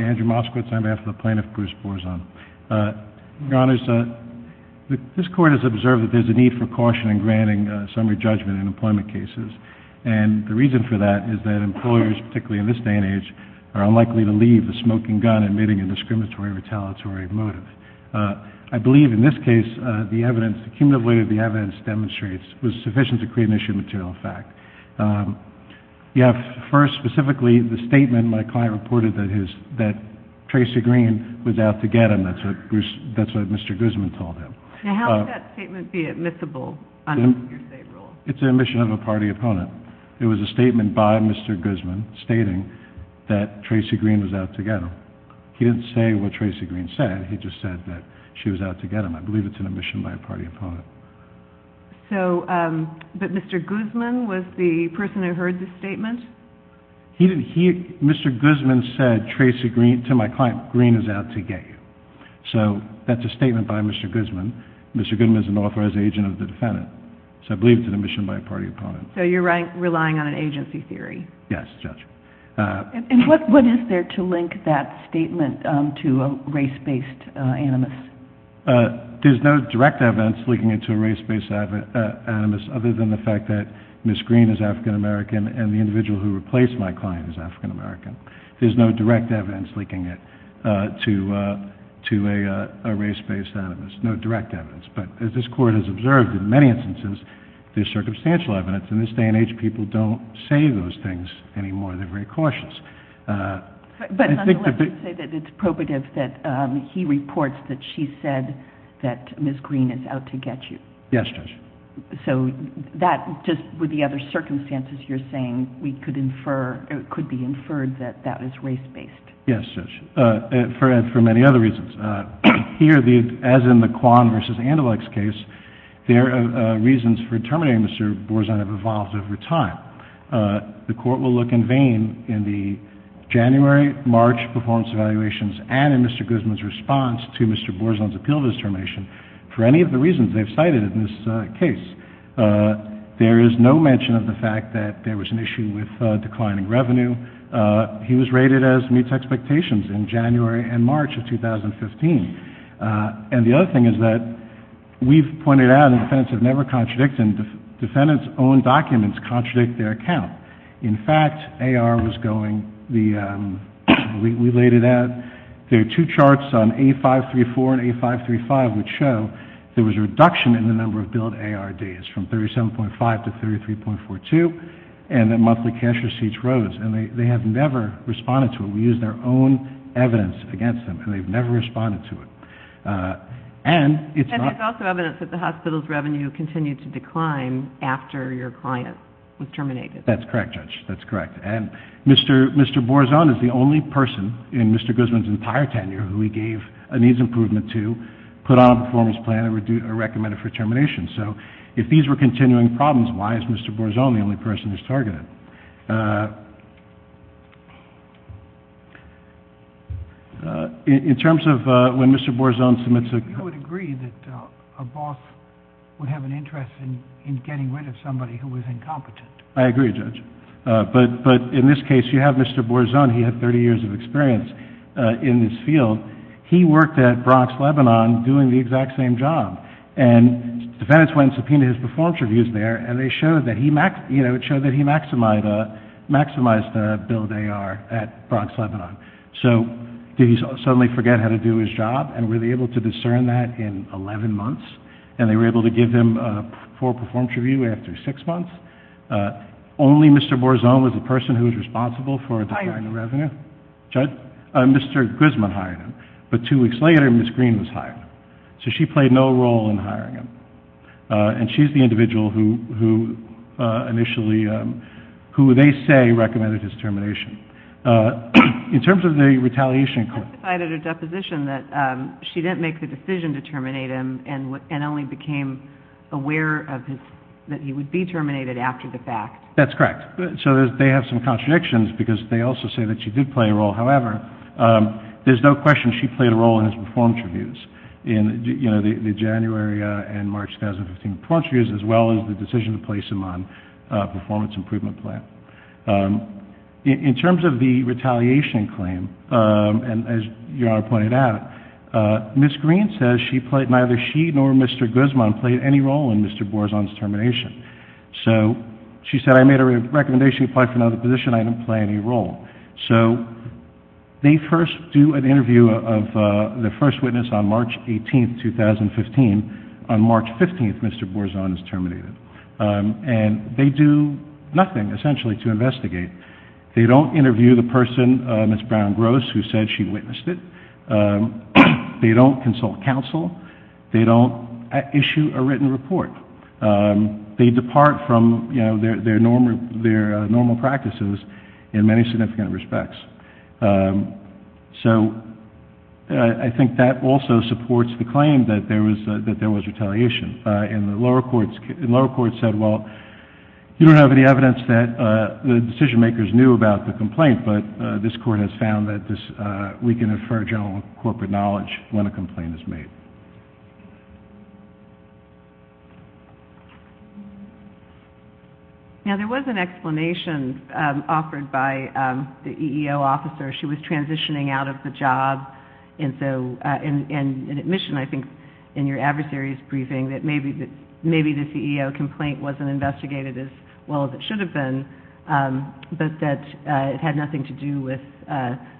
Andrew Moskowitz, on behalf of the Plaintiff, Bruce Borzon, Your Honors, this Court has observed that there is a need for caution in granting summary judgment in employment cases, and the reason for that is that employers, particularly in this day and age, are unlikely to leave the smoking gun admitting a discriminatory or retaliatory motive. I believe in this case that the evidence, the cumulative weight of the evidence demonstrates was sufficient to create an issue of material effect. You have first, specifically, the statement my client reported that Tracy Green was out to get him. That's what Mr. Guzman told him. Now, how could that statement be admissible under the hearsay rule? It's an admission of a party opponent. It was a statement by Mr. Guzman stating that Tracy Green was out to get him. He didn't say what Tracy Green said. He just said that she was out to get him. I believe it's an admission by a party opponent. But Mr. Guzman was the person who heard the statement? Mr. Guzman said, Tracy Green, to my client, Green is out to get you. So that's a statement by Mr. Guzman. Mr. Guzman is an authorized agent of the defendant. So I believe it's an admission by a party opponent. So you're relying on an agency theory? Yes, Judge. And what is there to link that statement to a race-based animus? There's no direct evidence linking it to a race-based animus other than the fact that Ms. Green is African American and the individual who replaced my client is African American. There's no direct evidence linking it to a race-based animus. No direct evidence. But as this Court has observed in many instances, there's circumstantial evidence. In this day and age, people don't say those things anymore. They're very cautious. But nonetheless, you say that it's probative that he reports that she said that Ms. Green is out to get you. Yes, Judge. So that, just with the other circumstances you're saying, we could infer, it could be inferred that that was race-based? Yes, Judge. For many other reasons. Here, as in the Kwan v. Andalux case, there are reasons for determining Mr. Borzon have evolved over time. The Court will look in vain in the January-March performance evaluations and in Mr. Guzman's response to Mr. Borzon's appeal of his termination for any of the reasons they've cited in this case. There is no mention of the fact that there was an issue with declining revenue. He was rated as meets expectations in January and March of 2015. And the other thing is that we've pointed out that defendants have never contradicted and defendants' own documents contradict their account. In fact, AR was going, we laid it out, there are two charts on A-534 and A-535 which show there was a reduction in the number of billed AR days from 37.5 to 33.42 and that monthly cash receipts rose. And they have never responded to it. We used their own evidence against them and they've never responded to it. And it's not... And there's also evidence that the hospital's revenue continued to decline after your client was terminated. That's correct, Judge. That's correct. And Mr. Borzon is the only person in Mr. Guzman's entire tenure who he gave a needs improvement to, put on a performance plan and recommended for termination. So if these were continuing problems, why is Mr. Borzon the only person who's targeted? In terms of when Mr. Borzon submits a... You would agree that a boss would have an interest in getting rid of somebody who was incompetent. I agree, Judge. But in this case, you have Mr. Borzon. He had 30 years of experience in this field. He worked at Bronx Lebanon doing the exact same job. And defendants went and subpoenaed his performance reviews there, and it showed that he maximized the billed AR at Bronx Lebanon. So did he suddenly forget how to do his job? And were they able to discern that in 11 months? And they were able to give him a full performance review after six months? Only Mr. Borzon was the person who was responsible for declining the revenue? Hired. Judge? Mr. Guzman hired him. But two weeks later, Ms. Green was hired. So she played no role in hiring him. And she's the individual who initially, who they say recommended his termination. In terms of the retaliation court... You testified at a deposition that she didn't make the decision to terminate him and only became aware that he would be terminated after the fact. That's correct. So they have some contradictions because they also say that she did play a role in Mr. Borzon's termination. So she said, I made a recommendation to apply for another first witness on March 18, 2015. On March 15, Mr. Borzon is terminated. And they do nothing essentially to investigate. They don't interview the person, Ms. Brown-Gross, who said she witnessed it. They don't consult counsel. They don't issue a written report. They depart from their normal practices in many significant respects. So I think that also supports the claim that there was retaliation. And the lower courts said, well, you don't have any evidence that the decision-makers knew about the complaint, but this court has found that we can infer general corporate knowledge when a complaint is made. Now, there was an explanation offered by the EEO officer. She was transitioning out of the job. And so in admission, I think, in your adversary's briefing, that maybe the CEO complaint wasn't investigated as well as it should have been, but that it had nothing to do with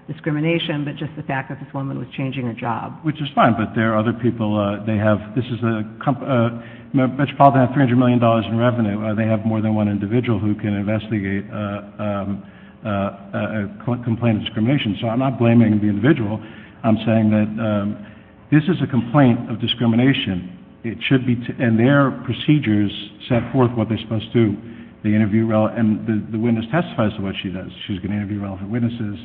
discrimination, but just the fact that this woman was changing her job. Which is fine, but there are other people. They have—this is a—Metropolitan has $300 million in revenue. They have more than one individual who can investigate a complaint of discrimination. So I'm not blaming the individual. I'm saying that this is a complaint of discrimination. It should be—and their procedures set forth what they're supposed to do. They interview—and the witness testifies to what she does. She's going to interview relevant witnesses.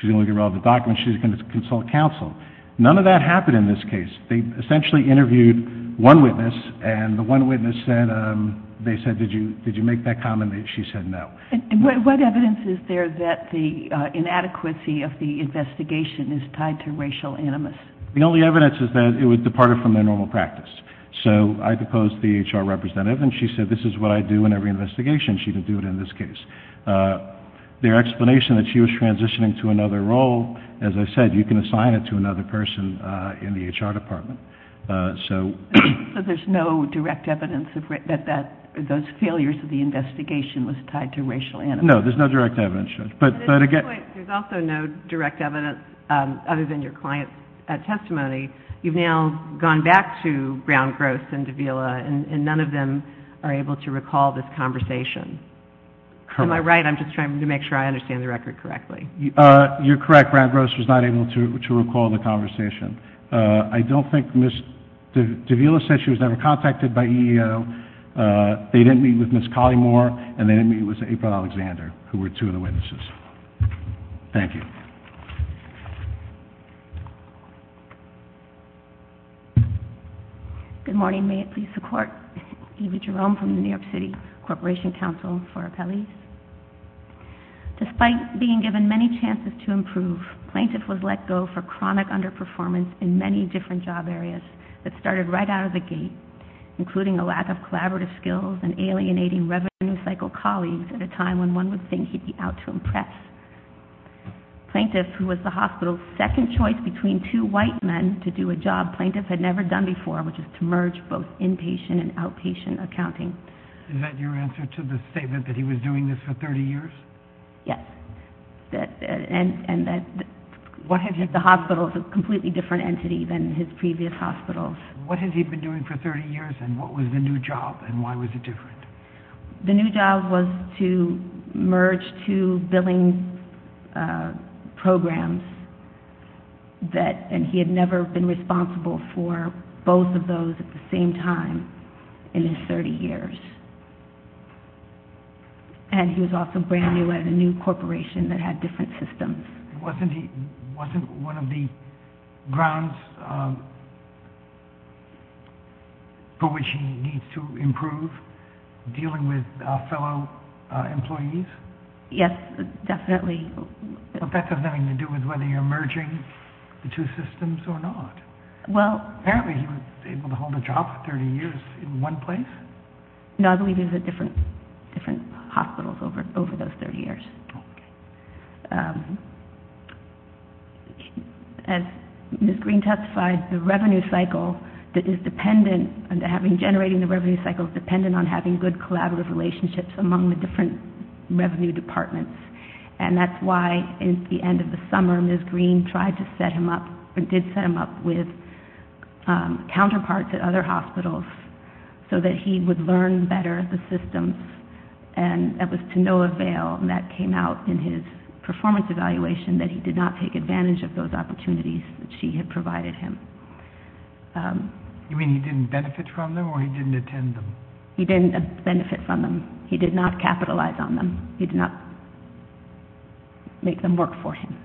She's going to look at relevant documents. She's going to consult with counsel. None of that happened in this case. They essentially interviewed one witness, and the one witness said—they said, did you make that comment? She said no. What evidence is there that the inadequacy of the investigation is tied to racial animus? The only evidence is that it was departed from their normal practice. So I proposed the HR representative, and she said, this is what I do in every investigation. She didn't do it in this case. Their explanation that she was transitioning to another role, as I said, you can assign it to another person in the HR department. So there's no direct evidence that those failures of the investigation was tied to racial animus? No, there's no direct evidence, Judge. At this point, there's also no direct evidence other than your client's testimony. You've now gone back to Brown-Gross and Davila, and none of them are able to recall this conversation. Correct. Am I right? I'm just trying to make sure I understand the record correctly. You're correct. Brown-Gross was not able to recall the conversation. I don't think Ms. Davila said she was ever contacted by EEO. They didn't meet with Ms. Collymore, and they didn't meet with April Alexander, who were two of the witnesses. Thank you. Good morning. May it please the Court. Eva Jerome from the New York City Corporation Counsel for Appellees. Despite being given many chances to improve, plaintiff was let go for chronic underperformance in many different job areas that started right out of the gate, including a lack of collaborative skills and alienating revenue cycle colleagues at a time when one would think he'd be out to impress. Plaintiff, who was the hospital's second choice between two white men to do a job plaintiff had never done before, which is to merge both inpatient and outpatient accounting. Is that your answer to the statement that he was doing this for 30 years? Yes. And that the hospital is a completely different entity than his previous hospitals. What has he been doing for 30 years, and what was the new job, and why was it different? The new job was to merge two billing programs, and he had never been responsible for both of those at the same time in his 30 years. And he was also brand new at a new corporation that had different systems. Wasn't one of the grounds for which he needs to improve dealing with fellow employees? Yes, definitely. But that doesn't have anything to do with whether you're merging the two systems or not. Apparently he was able to hold a job for 30 years in one place? No, I believe he was at different hospitals over those 30 years. As Ms. Green testified, the revenue cycle that is dependent on generating the revenue cycle is dependent on having good collaborative relationships among the different revenue departments. And that's why at the end of the summer Ms. Green tried to set him up, did set him up with counterparts at other hospitals so that he would learn better the systems. And it was to no avail, and that came out in his performance evaluation, that he did not take advantage of those opportunities that she had provided him. You mean he didn't benefit from them, or he didn't attend them? He didn't benefit from them. He did not capitalize on them. He did not make them work for him.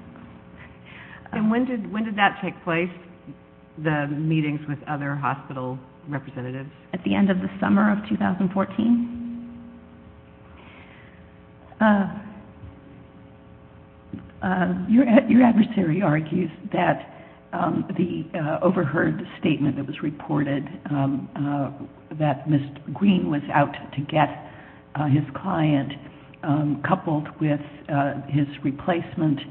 And when did that take place, the meetings with other hospital representatives? At the end of the summer of 2014. Your adversary argues that the overheard statement that was reported, that Ms. Green was out to get his client coupled with his replacement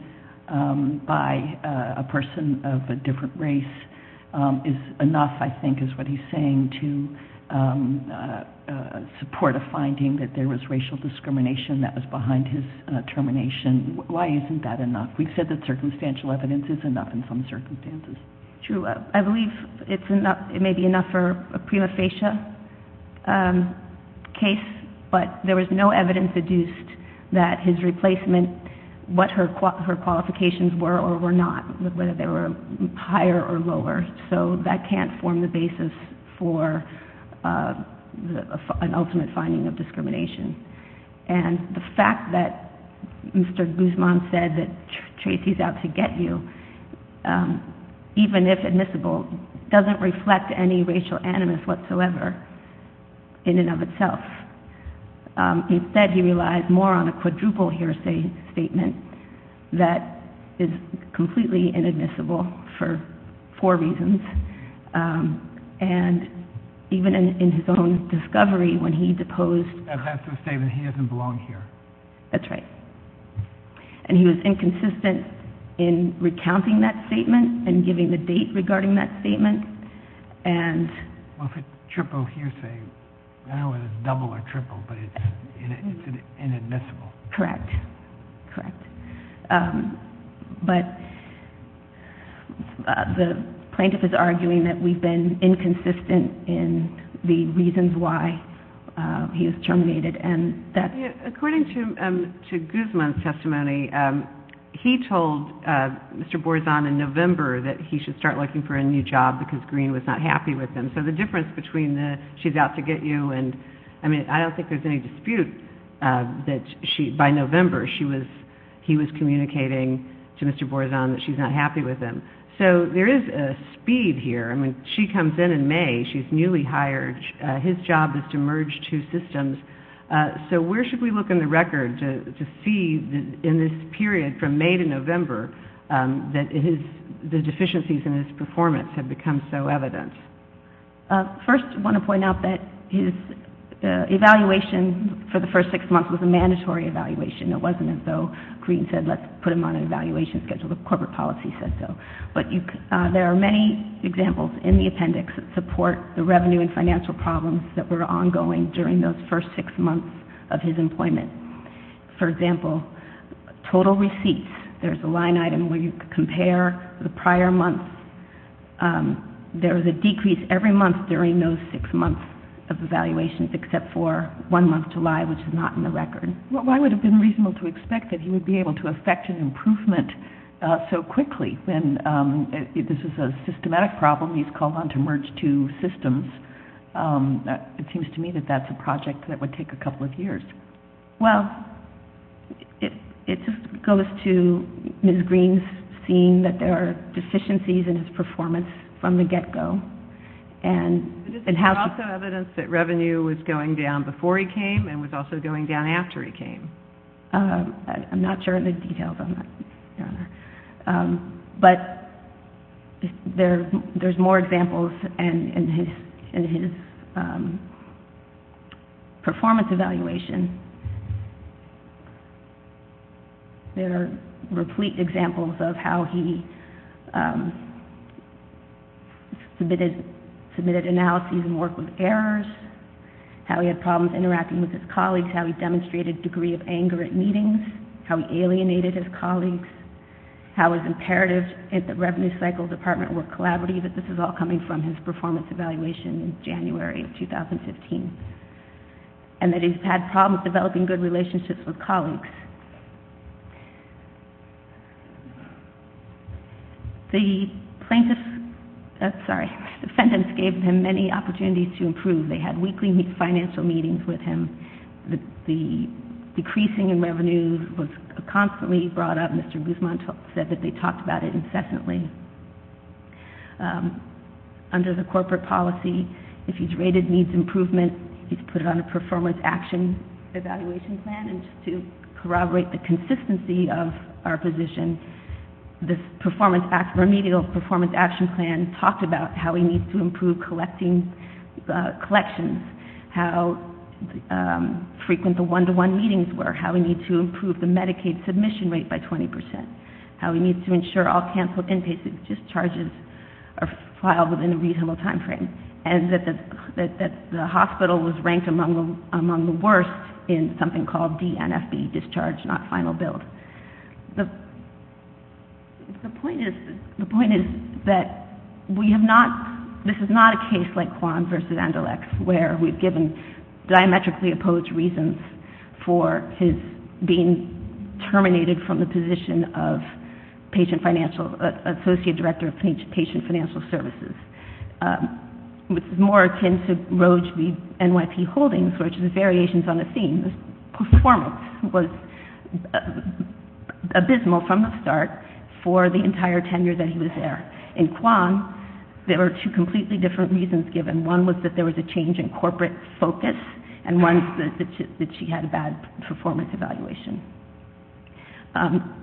by a person of a different race is enough, I think, is what he's saying, to support a finding that there was racial discrimination that was behind his termination. Why isn't that enough? We've said that circumstantial evidence is enough in some circumstances. True. I believe it may be enough for a prima facie case, but there was no evidence deduced that his replacement, what her qualifications were or were not, whether they were higher or lower. So that can't form the basis for an ultimate finding of discrimination. And the fact that Mr. Guzman said that Tracy's out to get you, even if admissible, doesn't reflect any racial animus whatsoever in and of itself. Instead, he relies more on a quadruple hearsay statement that is completely inadmissible for four reasons. And even in his own discovery, when he deposed... And that's the statement, he doesn't belong here. That's right. And he was inconsistent in recounting that statement and giving the date regarding that statement. Well, if it's triple hearsay, I don't know whether it's double or triple, but it's inadmissible. Correct. Correct. But the plaintiff is arguing that we've been inconsistent in the reasons why he was terminated and that... According to Guzman's testimony, he told Mr. Borzon in November that he should start looking for a new job because Greene was not happy with him. So the difference between the she's out to get you and, I mean, I don't think there's any dispute that by November he was communicating to Mr. Borzon that she's not happy with him. So there is a speed here. I mean, she comes in in May. She's newly hired. His job is to merge two systems. So where should we look in the record to see in this period from May to November that the deficiencies in his performance have become so evident? First, I want to point out that his evaluation for the first six months was a mandatory evaluation. It wasn't as though Greene said, let's put him on an evaluation schedule. The corporate policy said so. But there are many examples in the appendix that support the revenue and financial problems that were ongoing during those first six months of his employment. For example, total receipts, there's a line item where you compare the prior months. There was a decrease every month during those six months of evaluations except for one month, July, which is not in the record. Why would it have been reasonable to expect that he would be able to effect an improvement so quickly when this is a systematic problem? He's called on to merge two systems. It seems to me that that's a project that would take a couple of years. Well, it just goes to Ms. Greene's seeing that there are deficiencies in his performance from the get-go. But is there also evidence that revenue was going down before he came and was also going down after he came? I'm not sure of the details on that, Your Honor. But there's more examples in his performance evaluation. There are replete examples of how he submitted analyses and worked with colleagues, how he demonstrated a degree of anger at meetings, how he alienated his colleagues, how his imperatives at the Revenue Cycle Department were collaborative. This is all coming from his performance evaluation in January of 2015. And that he's had problems developing good relationships with colleagues. The plaintiffs, sorry, the defendants gave him many opportunities to improve. They had weekly financial meetings with him. The decreasing in revenue was constantly brought up. Mr. Guzman said that they talked about it incessantly. Under the corporate policy, if he's rated needs improvement, he's put it on a performance action evaluation plan. And just to corroborate the consistency of our position, this performance action plan talked about how we need to improve collections, how frequent the one-to-one meetings were, how we need to improve the Medicaid submission rate by 20%, how we need to ensure all canceled inpatient discharges are filed within a reasonable time frame. And that the hospital was ranked among the worst in something called DNFB, discharge not final bill. The point is that we have not, this is not a case like Kwan versus Anderlecht, where we've given diametrically opposed reasons for his being terminated from the position of patient financial, associate director of patient financial services. Which is more akin to Roche v. NYT Holdings, which is variations on the theme. This performance was abysmal from the start for the entire tenure that he was there. In Kwan, there were two completely different reasons given. One was that there was a change in corporate focus, and one is that she had a bad performance evaluation.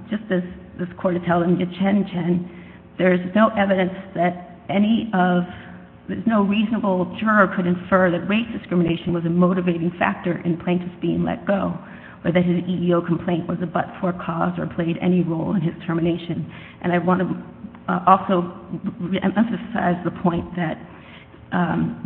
Just as the court is telling Chen Chen, there's no evidence that any of, there's no reasonable juror could infer that race discrimination was a motivating factor in plaintiffs being let go, or that his EEO complaint was a but-for cause or played any role in his termination. And I want to also emphasize the point that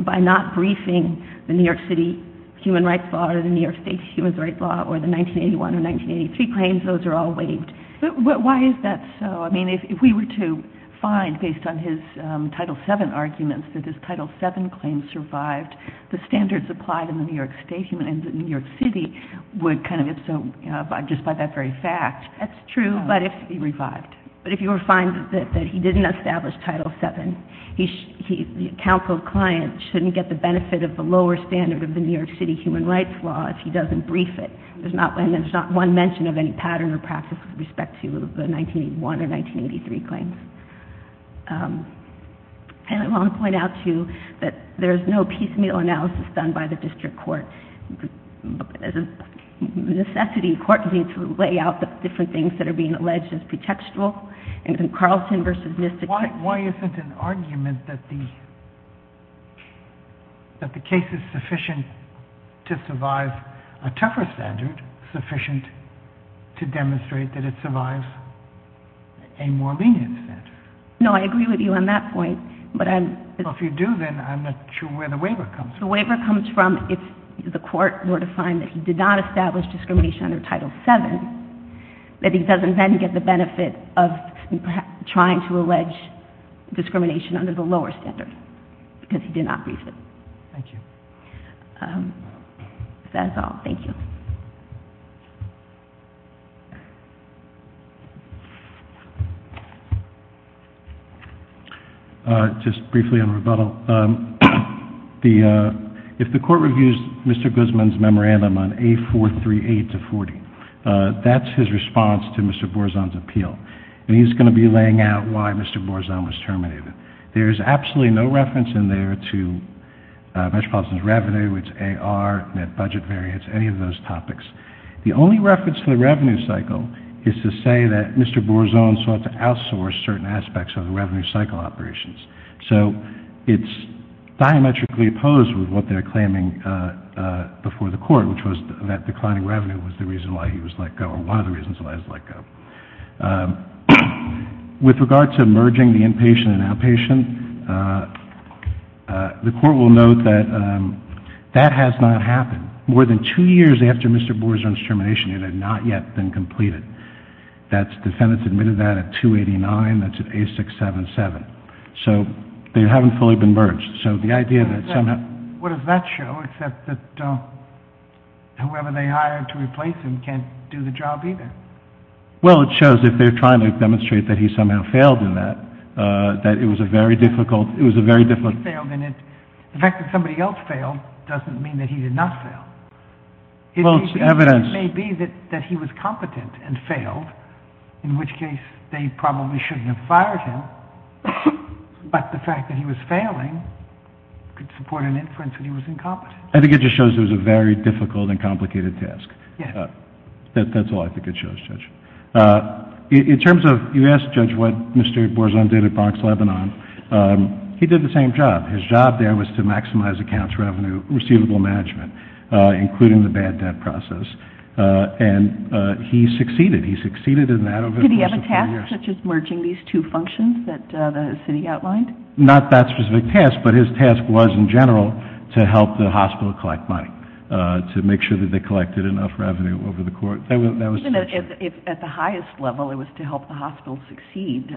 by not briefing the New York City human rights law or the New York State's human rights law or the 1981 or 1983 claims, those are all waived. But why is that so? I mean, if we were to find, based on his Title VII arguments, that his Title VII claims survived the standards applied in the New York State, in New York City, would kind of, if so, just by that very fact. That's true, but if he revived. But if you were to find that he didn't establish Title VII, the counseled client shouldn't get the benefit of the lower standard of the New York City human rights law if he doesn't brief it. There's not one mention of any pattern or practice with respect to the 1981 or 1983 claims. And I want to point out, too, that there's no piecemeal analysis done by the district court. As a necessity, court needs to lay out the different things that are being alleged as pretextual. And Carlson v. NIST, it could be. Why isn't an argument that the case is sufficient to survive a tougher standard sufficient to demonstrate that it survives a more lenient standard? No, I agree with you on that point, but I'm. Well, if you do, then I'm not sure where the waiver comes from. If the waiver comes from if the court were to find that he did not establish discrimination under Title VII, that he doesn't then get the benefit of trying to allege discrimination under the lower standard because he did not brief it. Thank you. That's all. Thank you. Just briefly on rebuttal. If the court reviews Mr. Guzman's memorandum on A438-40, that's his response to Mr. Borzon's appeal. And he's going to be laying out why Mr. Borzon was terminated. There's absolutely no reference in there to Metropolitan's revenue, its AR, net budget variance, any of those topics. The only reference to the revenue cycle is to say that Mr. Borzon sought to outsource certain aspects of the revenue cycle operations. So it's diametrically opposed with what they're claiming before the court, which was that declining revenue was the reason why he was let go or one of the reasons why he was let go. With regard to merging the inpatient and outpatient, the court will note that that has not happened. More than two years after Mr. Borzon's termination, it had not yet been completed. That's defendants admitted that at 289, that's at A677. So they haven't fully been merged. So the idea that somehow... What does that show except that whoever they hired to replace him can't do the job either? Well it shows if they're trying to demonstrate that he somehow failed in that, that it was a very difficult... He failed in it. The fact that somebody else failed doesn't mean that he did not fail. It may be that he was competent and failed, in which case they probably shouldn't have fired him, but the fact that he was failing could support an inference that he was incompetent. I think it just shows it was a very difficult and complicated task. Yes. That's all I think it shows, Judge. In terms of... You asked Judge what Mr. Borzon did at Bronx-Lebanon. He did the same job. His job there was to maximize accounts revenue, receivable management, including the bad debt process, and he succeeded. He succeeded in that over the course of four years. Did he have a task such as merging these two functions that the city outlined? Not that specific task, but his task was in general to help the hospital collect money, to make sure that they collected enough revenue over the course... Even if at the highest level it was to help the hospital succeed,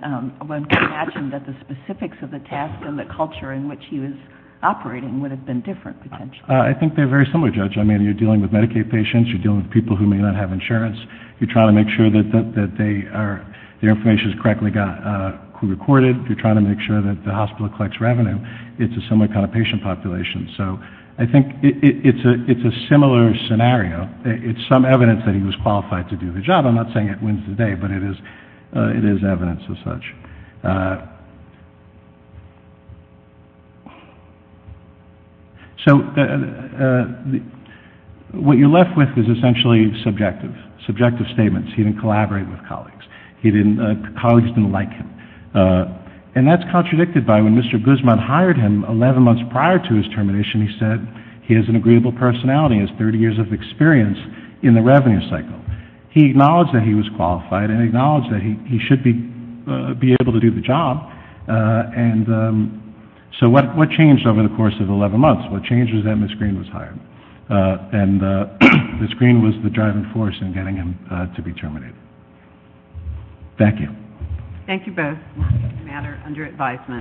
one can imagine that the specifics of the task and the culture in which he was operating would have been different potentially. I think they're very similar, Judge. I mean, you're dealing with Medicaid patients, you're dealing with people who may not have insurance, you're trying to make sure that their information is correctly recorded, you're trying to make sure that the hospital collects revenue, it's a similar kind of patient population. So I think it's a similar scenario. It's some evidence that he was qualified to do the job. I'm not saying it wins the day, but it is evidence as such. So what you're left with is essentially subjective. Subjective statements. He didn't collaborate with colleagues. Colleagues didn't like him. And that's contradicted by when Mr. Guzman hired him, 11 months prior to his termination he said he has an agreeable personality, has 30 years of experience in the revenue cycle. He acknowledged that he was qualified and acknowledged that he should be able to do the job. So what changed over the course of 11 months? What changed was that Ms. Green was hired. And Ms. Green was the driving force in getting him to be terminated. Thank you. Thank you both. This matter is under advisement.